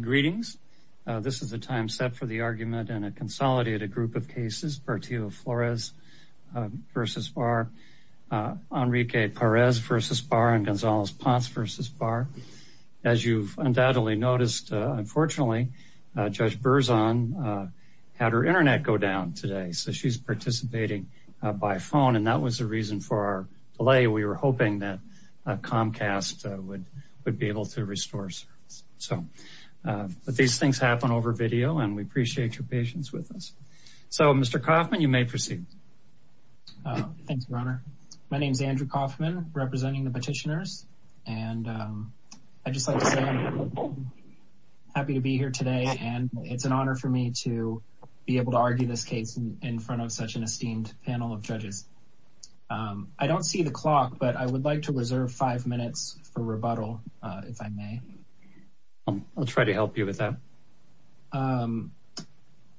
greetings this is the time set for the argument and a consolidated group of cases Portillo-Flores v. Barr, Enrique Perez v. Barr and Gonzales Ponce v. Barr as you've undoubtedly noticed unfortunately Judge Berzon had her internet go down today so she's participating by phone and that was the reason for our delay we were hoping that Comcast would would be able to restore service so but these things happen over video and we appreciate your patience with us so Mr. Kaufman you may proceed my name is Andrew Kaufman representing the petitioners and I just like to say I'm happy to be here today and it's an honor for me to be able to argue this case in front of such an esteemed panel of judges I don't see the clock but I would like to reserve five minutes for I'll try to help you with that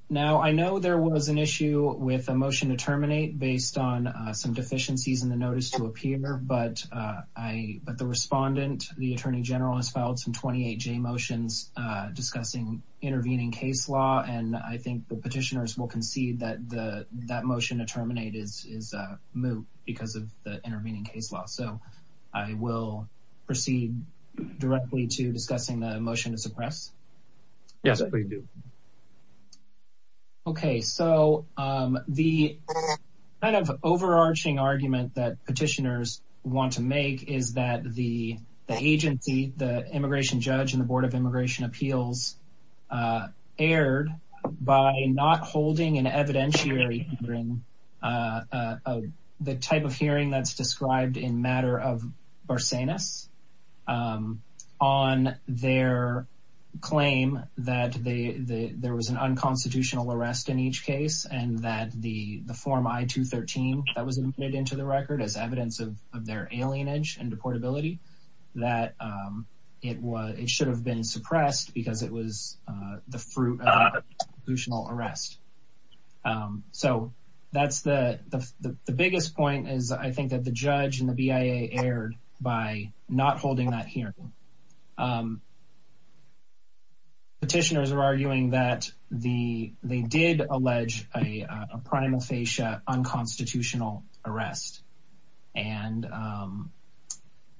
now I know there was an issue with a motion to terminate based on some deficiencies in the notice to appear but I but the respondent the Attorney General has filed some 28j motions discussing intervening case law and I think the petitioners will concede that the that motion to terminate is is a moot because of the intervening case law so I will proceed directly to discussing the motion to suppress yes I do okay so the kind of overarching argument that petitioners want to make is that the agency the immigration judge and the Board of Immigration Appeals aired by not holding an evidentiary hearing the type of hearing that's described in matter of Barsanis on their claim that the there was an unconstitutional arrest in each case and that the the form I 213 that was admitted into the record as evidence of their alien age and deportability that it was it should have been suppressed because it was the fruit of additional arrest so that's the the biggest point is I think that the judge and the BIA aired by not holding that hearing petitioners are arguing that the they did allege a primal fascia unconstitutional arrest and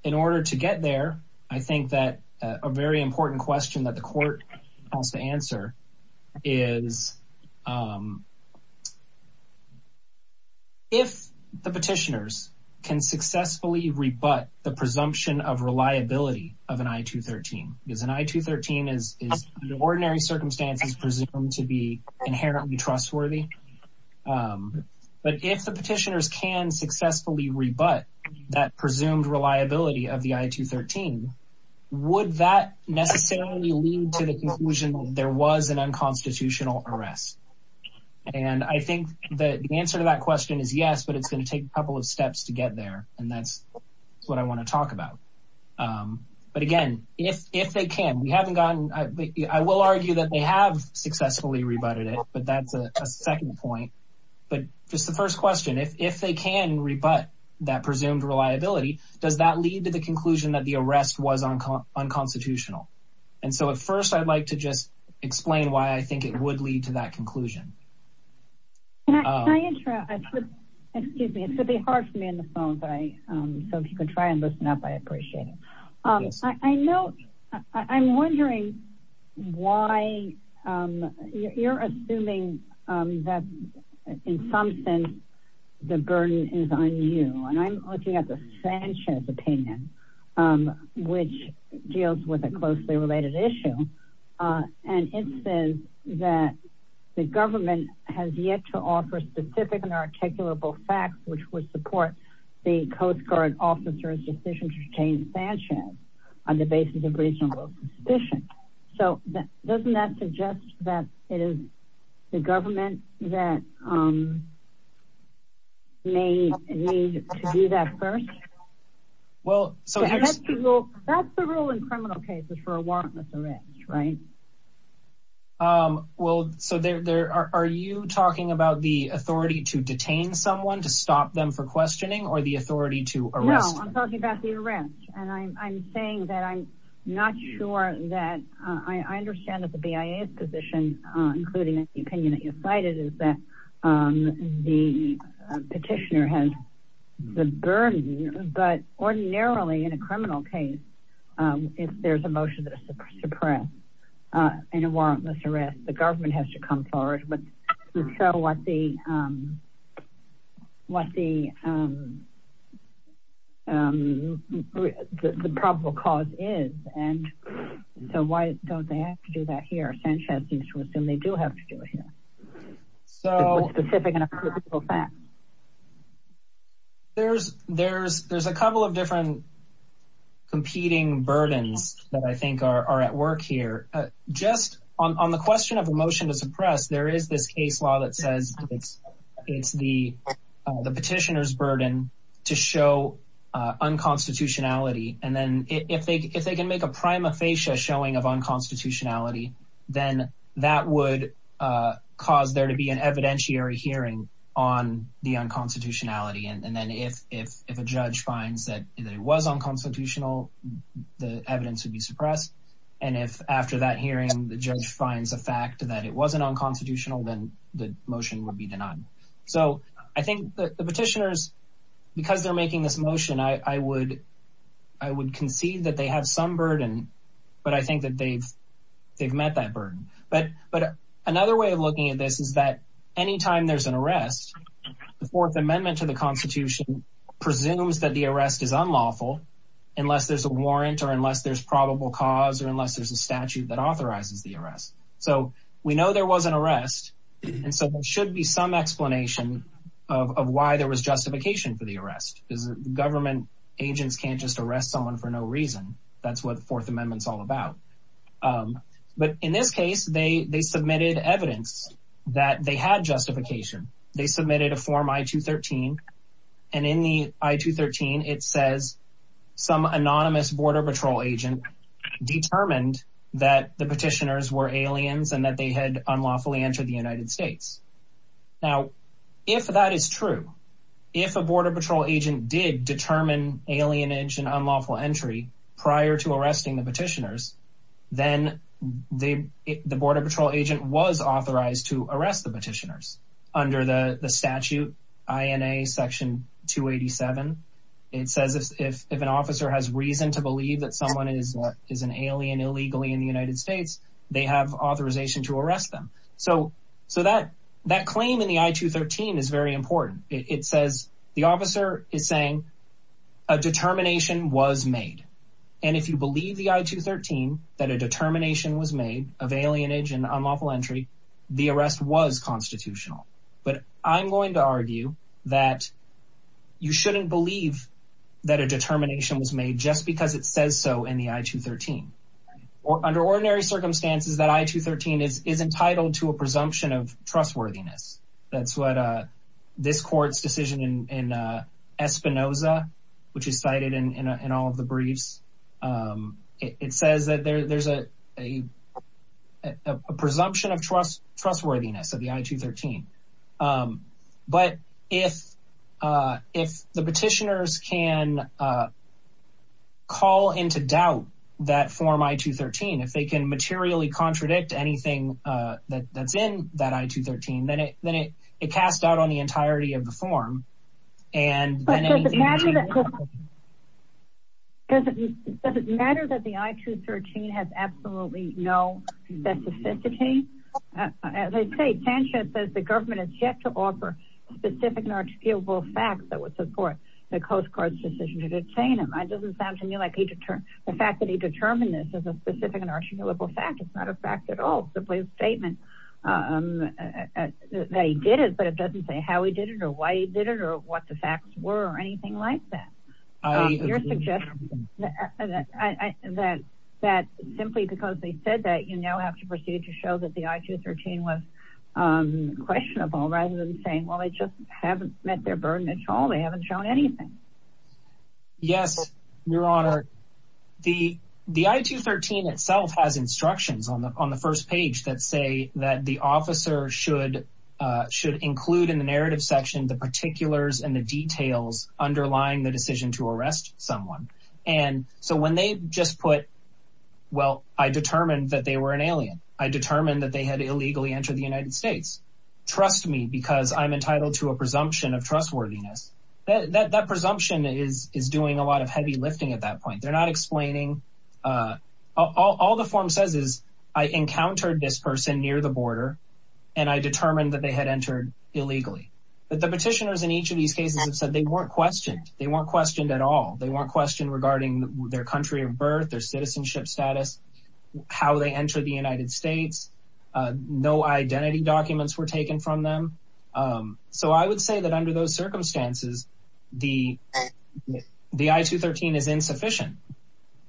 in order to get there I think that a very important question that the court has to answer is if the petitioners can successfully rebut the presumption of reliability of an i-213 because an i-213 is the ordinary circumstances presumed to be inherently trustworthy but if the petitioners can successfully rebut that presumed reliability of the i-213 would that necessarily lead to the conclusion there was an unconstitutional arrest and I think the answer to that question is yes but it's going to take a couple of steps to get there and that's what I want to talk about but again if if they can we haven't gotten I will argue that they have successfully rebutted it but that's a second point but just the first question if they can rebut that presumed reliability does that lead to the conclusion that the arrest was on unconstitutional and so at first I'd like to just explain why I think it would lead to that conclusion I know I'm wondering why you're assuming that in looking at the Sanchez opinion which deals with a closely related issue and it says that the government has yet to offer specific and articulable facts which would support the Coast Guard officers decision to detain Sanchez on the basis of reasonable suspicion so that doesn't that suggest that it is the well so that's the rule in criminal cases for a warrantless arrest right well so there are you talking about the authority to detain someone to stop them for questioning or the authority to arrest I'm talking about the arrest and I'm saying that I'm not sure that I understand that the BIA's position including the opinion that you cited is that the petitioner has the burden but ordinarily in a criminal case if there's a motion that is suppressed in a warrantless arrest the government has to come forward but so what the what the the probable cause is and so why don't they have to do that here Sanchez used to assume they do have to do it here so there's there's there's a couple of different competing burdens that I think are at work here just on the question of a motion to suppress there is this case law that says it's it's the the petitioners burden to show unconstitutionality and then if they if prima facie showing of unconstitutionality then that would cause there to be an evidentiary hearing on the unconstitutionality and then if if if a judge finds that it was unconstitutional the evidence would be suppressed and if after that hearing the judge finds a fact that it wasn't unconstitutional then the motion would be denied so I think the petitioners because they're making this motion I would I would concede that they have some burden but I think that they've they've met that burden but but another way of looking at this is that anytime there's an arrest the fourth amendment to the Constitution presumes that the arrest is unlawful unless there's a warrant or unless there's probable cause or unless there's a statute that authorizes the arrest so we know there was an arrest and so there should be some explanation of why there was justification for the arrest is government agents can't just arrest someone for no reason that's what the fourth amendment is all about but in this case they they submitted evidence that they had justification they submitted a form i-213 and in the i-213 it says some anonymous border patrol agent determined that the petitioners were aliens and that they had unlawfully entered the United States now if that is true if a border patrol agent did determine alienage and unlawful entry prior to arresting the petitioners then the border patrol agent was authorized to arrest the petitioners under the statute INA section 287 it says if an officer has reason to believe that someone is is an alien illegally in the United States they have authorization to arrest them so so that that claim in the i-213 is very important it says the officer is saying a determination was made and if you believe the i-213 that a determination was made of alien age and unlawful entry the arrest was constitutional but I'm going to argue that you shouldn't believe that a determination was made just because it says so in the i-213 or under ordinary circumstances that i-213 is is entitled to a presumption of trustworthiness that's what this court's decision in Espinoza which is cited in all of the briefs it says that there's a presumption of trust trustworthiness of the i-213 but if if the petitioners can call into doubt that form i-213 if they can materially contradict anything that that's in that i-213 then it then it it passed out on the entirety of the form and does it matter that the i-213 has absolutely no specificity as I say Sanchez says the government has yet to offer specific and articulable facts that would support the Coast Guard's decision to detain him I doesn't sound to me like he to turn the fact that he determined this is a specific and articulable fact it's not a fact at all simply a statement that he did it but it doesn't say how he did it or why he did it or what the facts were or anything like that your suggestion that that simply because they said that you now have to proceed to show that the i-213 was questionable rather than saying well I just haven't met their burden at all they haven't shown anything yes your itself has instructions on the on the first page that say that the officer should should include in the narrative section the particulars and the details underlying the decision to arrest someone and so when they just put well I determined that they were an alien I determined that they had illegally entered the United States trust me because I'm entitled to a presumption of trustworthiness that that presumption is is doing a lot of heavy lifting at that all the form says is I encountered this person near the border and I determined that they had entered illegally but the petitioners in each of these cases have said they weren't questioned they weren't questioned at all they weren't questioned regarding their country of birth their citizenship status how they enter the United States no identity documents were taken from them so I would say that under those circumstances the the i-213 is insufficient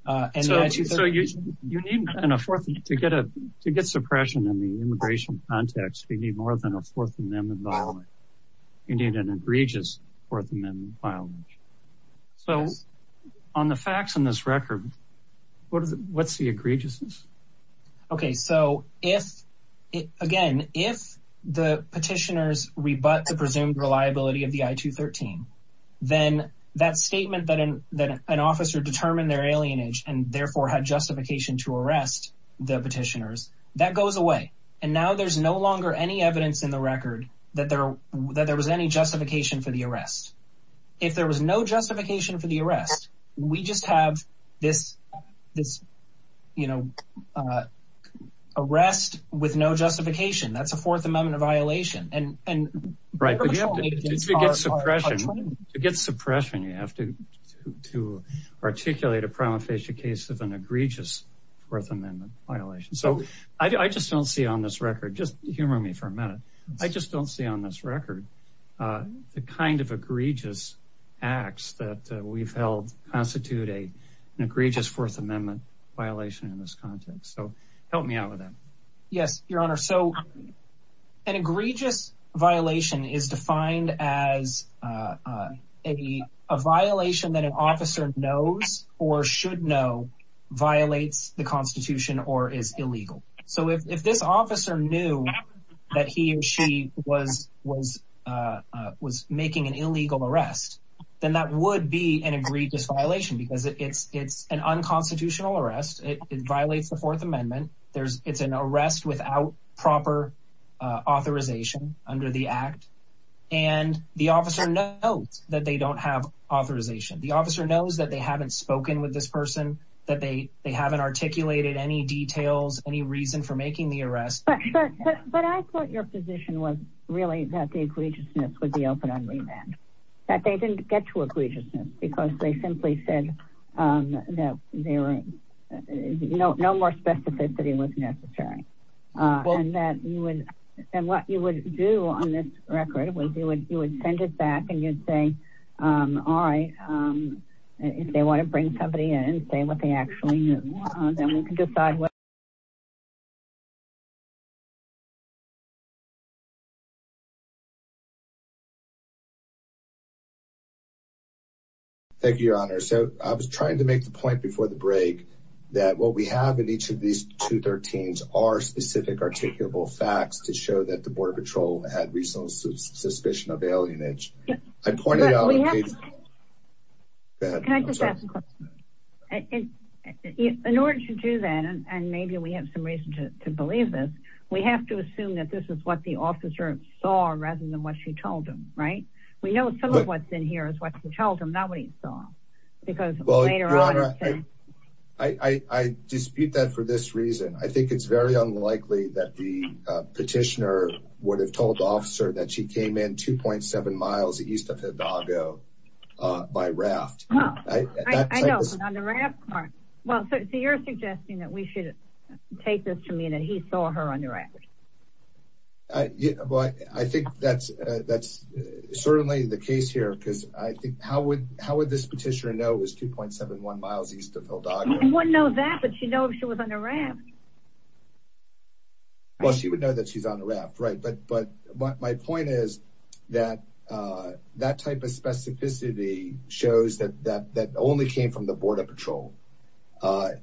to get a to get suppression in the immigration context we need more than a fourth amendment you need an egregious fourth amendment violence so on the facts in this record what is it what's the egregiousness okay so if it again if the petitioners rebut the presumed reliability of the i-213 then that statement that in that an officer determined their alien age and therefore had justification to arrest the petitioners that goes away and now there's no longer any evidence in the record that there that there was any justification for the arrest if there was no justification for the arrest we just have this this you know arrest with no justification that's a fourth amendment violation and and right suppression to get suppression you have to to articulate a prima facie case of an egregious fourth amendment violation so I just don't see on this record just humor me for a minute I just don't see on this record the kind of egregious acts that we've held constitute a egregious fourth amendment violation in this context so help me out with them yes your honor so an egregious violation is defined as a violation that an officer knows or should know violates the Constitution or is illegal so if this officer knew that he or she was was was making an illegal arrest then that would be an egregious violation because it's it's an unconstitutional arrest it violates the Fourth Amendment there's it's an arrest without proper authorization under the act and the officer knows that they don't have authorization the officer knows that they haven't spoken with this person that they they haven't articulated any details any reason for making the arrest really that the egregiousness would be open on me that that they didn't get to egregiousness because they simply said that they were you know no more specificity was necessary and that you would and what you would do on this record we do it you would send it back and you'd say all right if they want to bring somebody in and say what they actually knew then we can decide what thank you your honor so I was trying to make the point before the break that what we have in each of these two thirteens are specific articulable facts to show that the Border Patrol had recent suspicion of alienage I pointed in order to do that and maybe we have some reason to believe this we have to assume that this is what the officer saw rather than what she told him right we know some of what's in here is what we told him that we saw because I dispute that for this reason I think it's very unlikely that the petitioner would have by raft well so you're suggesting that we should take this to me that he saw her on the raft I think that's that's certainly the case here because I think how would how would this petitioner know was 2.71 miles east of Hilda you wouldn't know that but you know if she was on the raft well she would know that she's on right but but my point is that that type of specificity shows that that that only came from the Border Patrol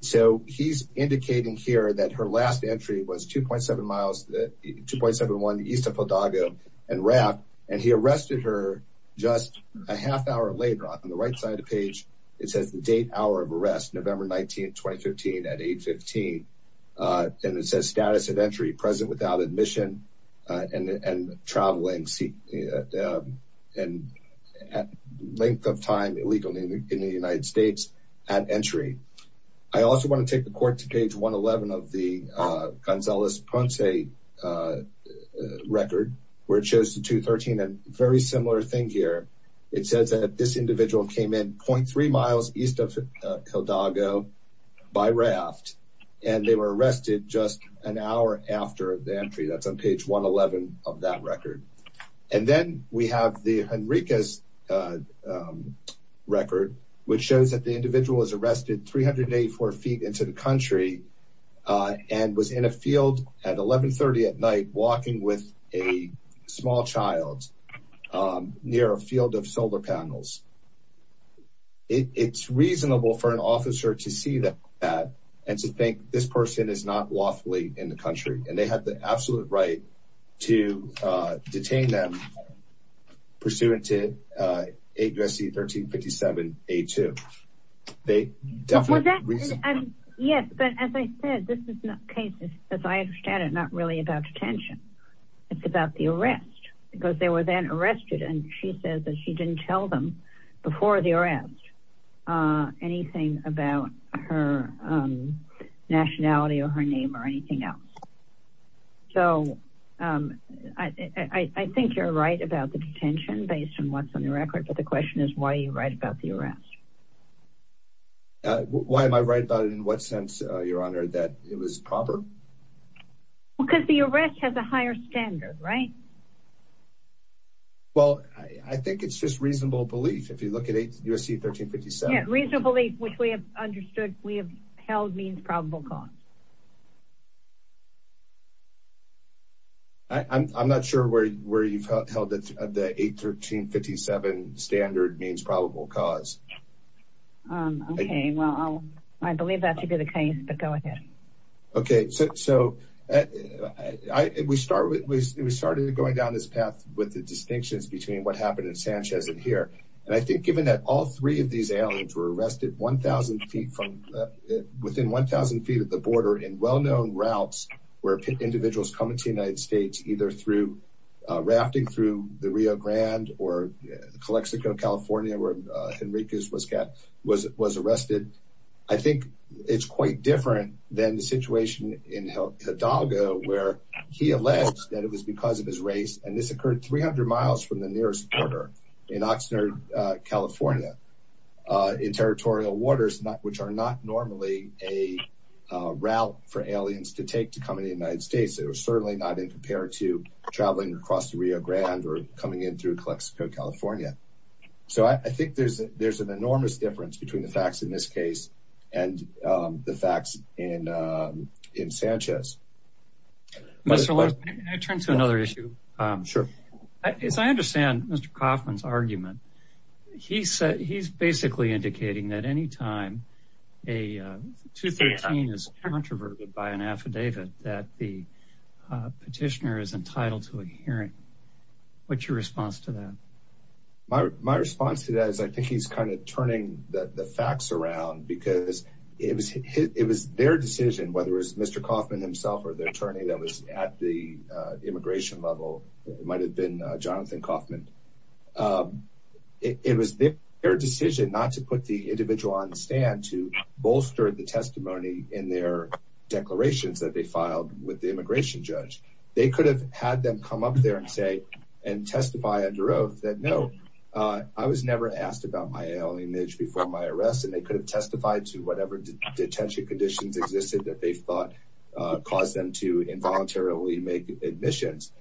so he's indicating here that her last entry was 2.7 miles that 2.71 east of Hidalgo and raft and he arrested her just a half hour later on the right side of the page it says the date hour of arrest November 19 2015 at age 15 and it says status of entry present without admission and traveling see and at length of time illegally in the United States at entry I also want to take the court to page 111 of the Gonzales Ponce record where it shows the 213 and very similar thing here it says that this individual came in 0.3 miles east of Hidalgo by raft and they were arrested just an hour after the entry that's on page 111 of that record and then we have the Enriquez record which shows that the individual is arrested 384 feet into the country and was in a field at 1130 at night walking with a small child near a it's reasonable for an officer to see that and to think this person is not lawfully in the country and they had the absolute right to detain them pursuant to a dressy 1357 a2 they definitely yes but as I said this is not cases as I understand it not really about detention it's about the arrest because they were then arrested and she said that she didn't tell them before the arrest anything about her nationality or her name or anything else so I think you're right about the detention based on what's on the record but the question is why are you right about the arrest why am I right about it in what sense your proper because the arrest has a higher standard right well I think it's just reasonable belief if you look at a USC 1357 reasonably which we have understood we have held means probable cause I'm not sure where you've held it at the 813 57 standard means probable cause I believe that to be the case but okay so we start with we started going down this path with the distinctions between what happened in Sanchez in here and I think given that all three of these aliens were arrested 1,000 feet from within 1,000 feet of the border in well-known routes where pit individuals come into the United States either through rafting through the Rio Grande or Calexico California where Henrique's was it was arrested I think it's quite different than the situation in Hidalgo where he alleged that it was because of his race and this occurred 300 miles from the nearest border in Oxnard California in territorial waters not which are not normally a route for aliens to take to come in the United States it was certainly not in compared to traveling across the Rio Grande or coming in through Calexico California so I think there's there's an enormous difference between the facts in this case and the facts in in Sanchez I turn to another issue sure as I understand mr. Kaufman's argument he said he's basically indicating that anytime a 213 is controverted by an my response to that is I think he's kind of turning that the facts around because it was it was their decision whether it's mr. Kaufman himself or the attorney that was at the immigration level it might have been Jonathan Kaufman it was their decision not to put the individual on the stand to bolster the testimony in their declarations that they filed with the immigration judge they could have had them come up there and say and testify under oath that no I was never asked about my alien age before my arrest and they could have testified to whatever detention conditions existed that they thought caused them to involuntarily make admissions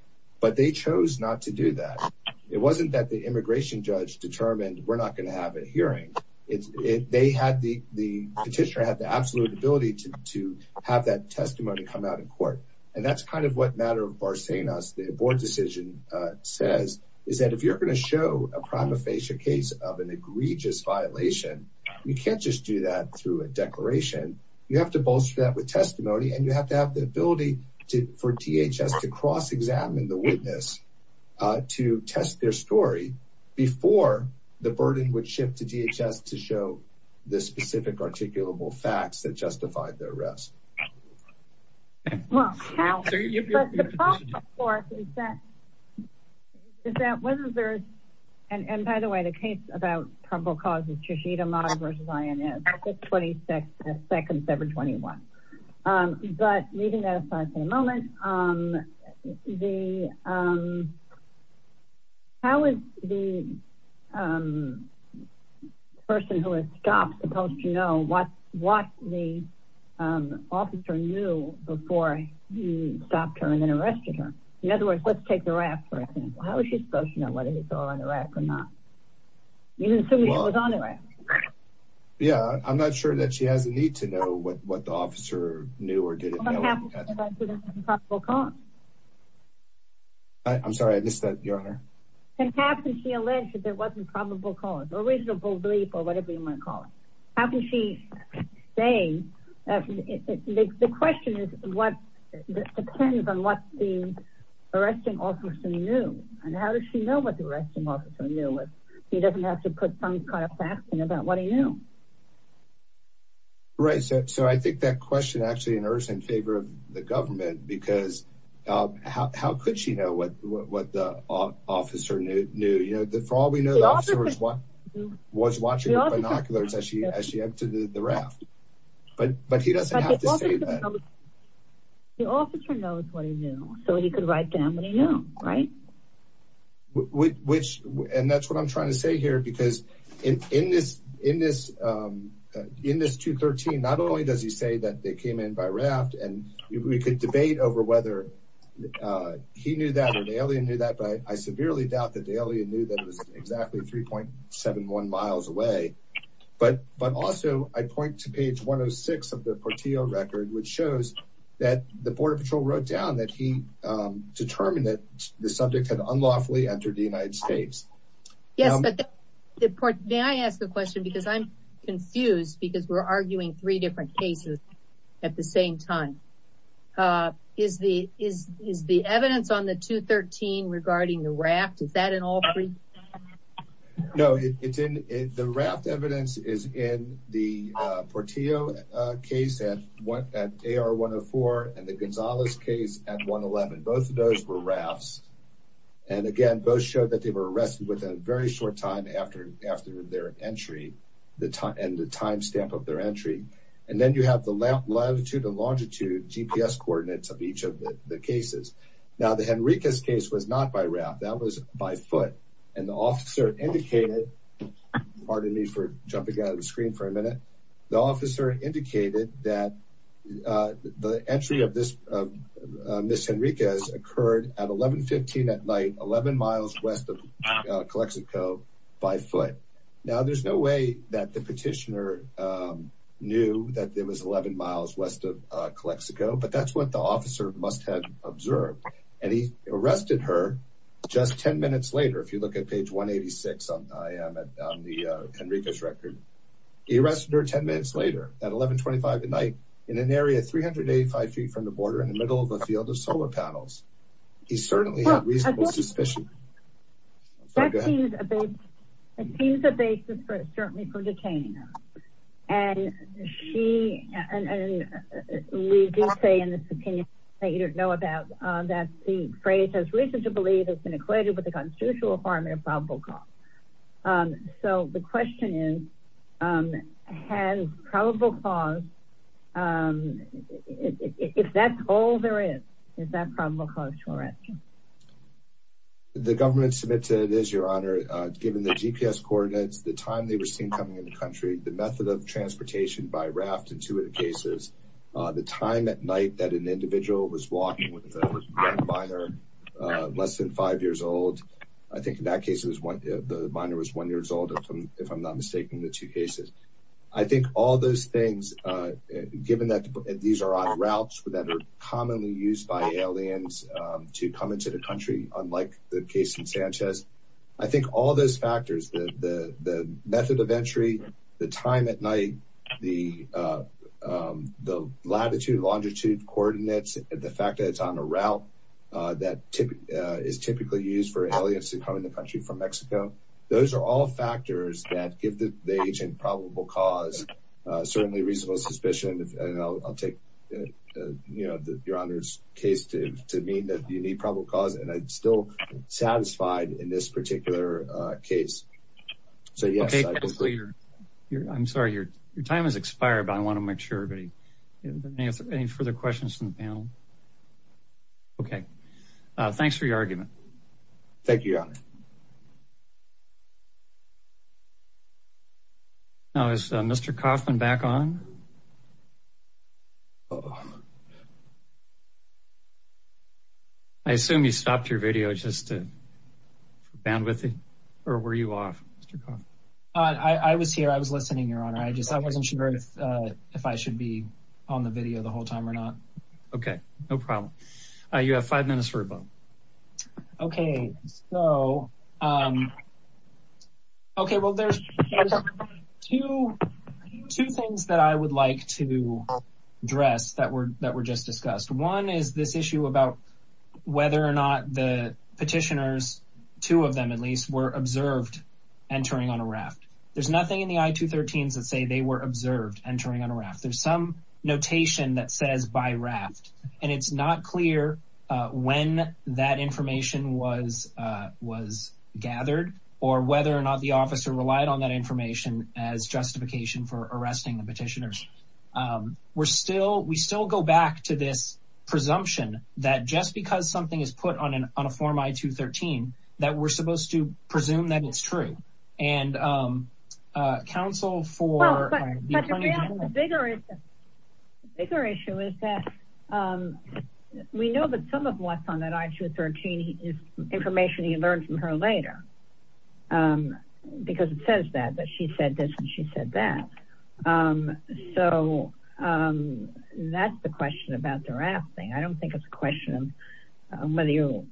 but they chose not to do that it wasn't that the immigration judge determined we're not going to have a hearing it's it they had the the petitioner had the absolute ability to have that testimony come out in court and that's kind of what matter of bar saying us the board decision says is that if you're going to show a prima facie case of an egregious violation you can't just do that through a declaration you have to bolster that with testimony and you have to have the ability to for DHS to cross-examine the witness to test their story before the burden would shift to DHS to show the specific articulable facts that justified their arrest and by the way the case about probable causes to sheet a model versus I am at 26 seconds every 21 but leaving what what the officer knew before you stopped her and then arrested her in other words let's take the raft for a thing how is she supposed to know whether it's all in Iraq or not yeah I'm not sure that she has a need to know what what the officer knew or didn't I'm sorry I missed that your honor and captain she alleged that there wasn't probable cause a reasonable belief or how can she say the question is what depends on what the arresting officer knew and how does she know what the arresting officer knew what he doesn't have to put some kind of faxing about what he knew right so I think that question actually in Earth's in favor of the government because how could she know what what the officer knew knew you know that for all we know the officers was watching binoculars as she as she entered the raft but but he doesn't know what he knew so he could write down right which and that's what I'm trying to say here because in this in this in this 213 not only does he say that they came in by raft and we could debate over whether he knew that or the alien knew that but I severely doubt that the alien knew that it was exactly 3.71 miles away but but also I point to page 106 of the Portillo record which shows that the Border Patrol wrote down that he determined that the subject had unlawfully entered the United States yes but the point may I ask the question because I'm confused because we're arguing three different cases at the the raft is that in all three no it's in the raft evidence is in the Portillo case and what at AR 104 and the Gonzales case at 111 both of those were rafts and again both showed that they were arrested within a very short time after after their entry the time and the timestamp of their entry and then you have the left latitude and longitude GPS coordinates of each of the cases now the Enriquez case was not by raft that was by foot and the officer indicated pardon me for jumping out of the screen for a minute the officer indicated that the entry of this miss Enriquez occurred at 1115 at night 11 miles west of Calexico by foot now there's no way that the petitioner knew that there was 11 miles west of Calexico but that's what the officer must have observed and he arrested her just 10 minutes later if you look at page 186 I am at the Enriquez record he arrested her 10 minutes later at 1125 at night in an area 385 feet from the border in the middle of a field of solar panels he we do say in this opinion that you don't know about that the phrase has reason to believe has been equated with the constitutional requirement of probable cause so the question is has probable cause if that's all there is is that probable cause to arrest you the government submitted is your honor given the GPS coordinates the time they were seen coming in the country the time at night that an individual was walking with a minor less than five years old I think in that case it was one the minor was one years old if I'm not mistaken the two cases I think all those things given that these are on routes that are commonly used by aliens to come into the country unlike the case in Sanchez I think all those factors the the method of entry the time at night the latitude longitude coordinates and the fact that it's on a route that tip is typically used for aliens to come in the country from Mexico those are all factors that give the agent probable cause certainly reasonable suspicion and I'll take you know the your honor's case to mean that you need probable cause and still satisfied in this particular case so yes I'm sorry your time has expired but I want to make sure any further questions from the panel okay thanks for your argument thank you now is mr. Kaufman back on oh I assume you stopped your video just to band with it or were you off I was here I was listening your honor I just I wasn't sure if if I should be on the video the whole time or not okay no problem you have five minutes for a vote okay so okay well there's two things that I would like to dress that were that were just discussed one is this issue about whether or not the petitioners two of them at least were observed entering on a raft there's nothing in the i-213s that say they were observed entering on a raft there's some when that information was was gathered or whether or not the officer relied on that information as justification for arresting the petitioners we're still we still go back to this presumption that just because something is put on an on a form i-213 that we're supposed to presume that it's true and counsel for bigger is bigger issue is that we know that some of what's on that i-213 is information you learn from her later because it says that but she said this and she said that so that's the question about the raft thing I don't think it's a question whether you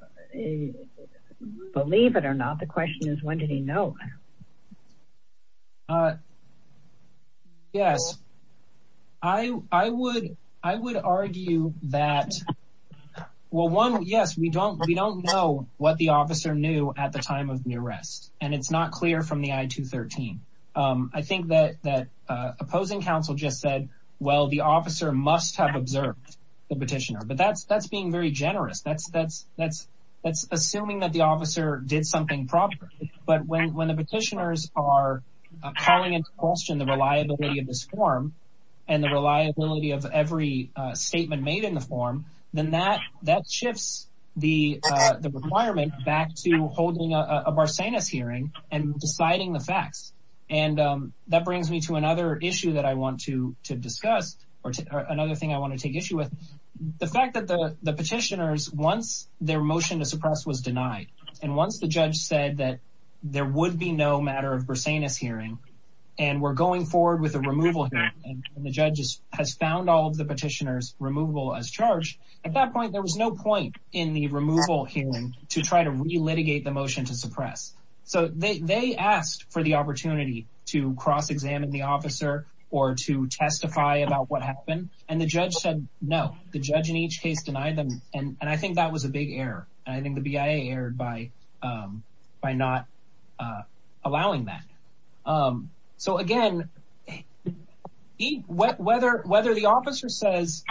believe it or not the question is when did he know yes I I would I would argue that well one yes we don't we don't know what the officer knew at the time of the arrest and it's not clear from the i-213 I think that that opposing counsel just said well the officer must have observed the petitioner but that's that's being very generous that's that's that's that's assuming that the officer did something properly but when the petitioners are calling in question the reliability of this form and the reliability of every statement made in the form then that that shifts the requirement back to holding a Barcenas hearing and deciding the facts and that brings me to another issue that I want to to discuss or another thing I want to take issue with the fact that the the petitioners once their motion to denied and once the judge said that there would be no matter of Barcenas hearing and we're going forward with a removal and the judges has found all of the petitioners removable as charged at that point there was no point in the removal hearing to try to re-litigate the motion to suppress so they asked for the opportunity to cross-examine the officer or to testify about what happened and the judge said no the judge in each case denied them and and I think that was a big error I think the BIA erred by by not allowing that so again whether whether the officer says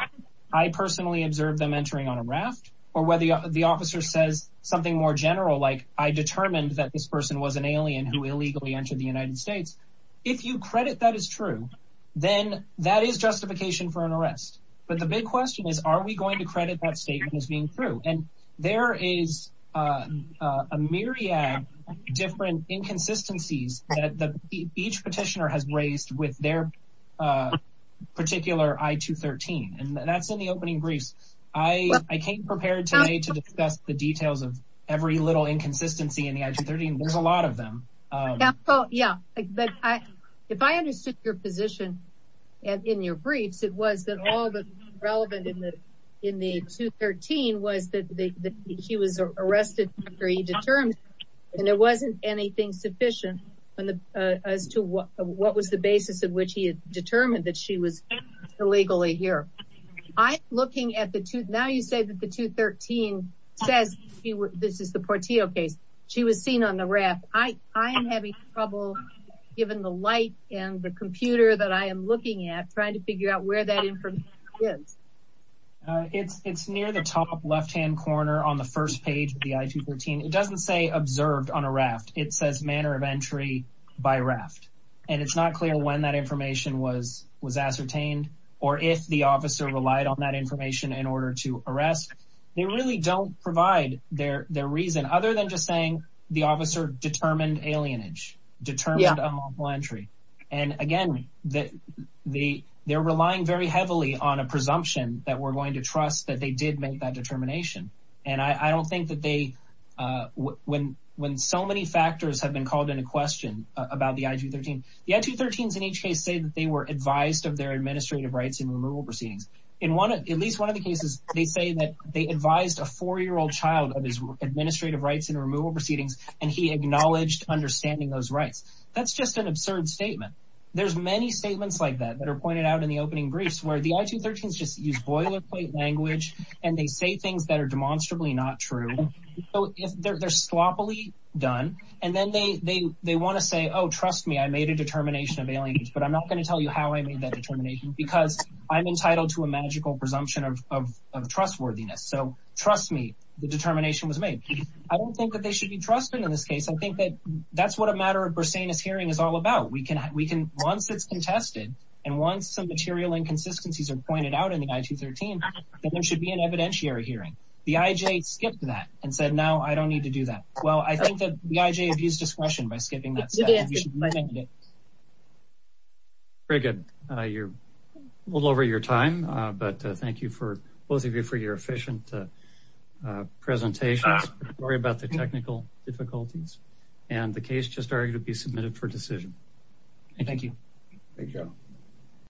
I personally observed them entering on a raft or whether the officer says something more general like I determined that this person was an alien who illegally entered the United States if you credit that is true then that is justification for an arrest but the big question is are we going to credit that statement as being true and there is a myriad different inconsistencies that the each petitioner has raised with their particular i-213 and that's in the opening briefs I I came prepared to me to discuss the details of every little inconsistency in the i-213 there's a lot of them oh yeah but I if I understood your position and in your briefs it was that all the relevant in the in the 213 was that she was arrested after he determined and there wasn't anything sufficient and the as to what what was the basis of which he had determined that she was illegally here I looking at the tooth now you say that the 213 says this is the Portillo case she was seen on the raft I I am having trouble given the light and the computer that I am looking at trying to figure out where that information is it's it's near the top left-hand corner on the first page the i-213 it doesn't say observed on a raft it says manner of entry by raft and it's not clear when that information was was ascertained or if the officer relied on that information in order to arrest they really don't provide their their reason other than just saying the they're relying very heavily on a presumption that we're going to trust that they did make that determination and I don't think that they when when so many factors have been called in a question about the i-213 the i-213s in each case say that they were advised of their administrative rights in removal proceedings in one at least one of the cases they say that they advised a four-year-old child of his administrative rights in removal proceedings and he acknowledged understanding those rights that's just an absurd statement there's many statements like that that are pointed out in the opening briefs where the i-213s just use boilerplate language and they say things that are demonstrably not true so if they're sloppily done and then they they they want to say oh trust me I made a determination of aliens but I'm not going to tell you how I made that determination because I'm entitled to a magical presumption of trustworthiness so trust me the determination was made I don't think that they should be trusted in this case I think that that's what a matter of per se in this hearing is all about we can we can once it's contested and once some material inconsistencies are pointed out in the i-213 there should be an evidentiary hearing the IJ skipped that and said now I don't need to do that well I think that the IJ abused discretion by skipping that very good you're a little over your time but thank you for both of you for your efficient presentations worry about the technical difficulties and the case just are going to be submitted for decision thank you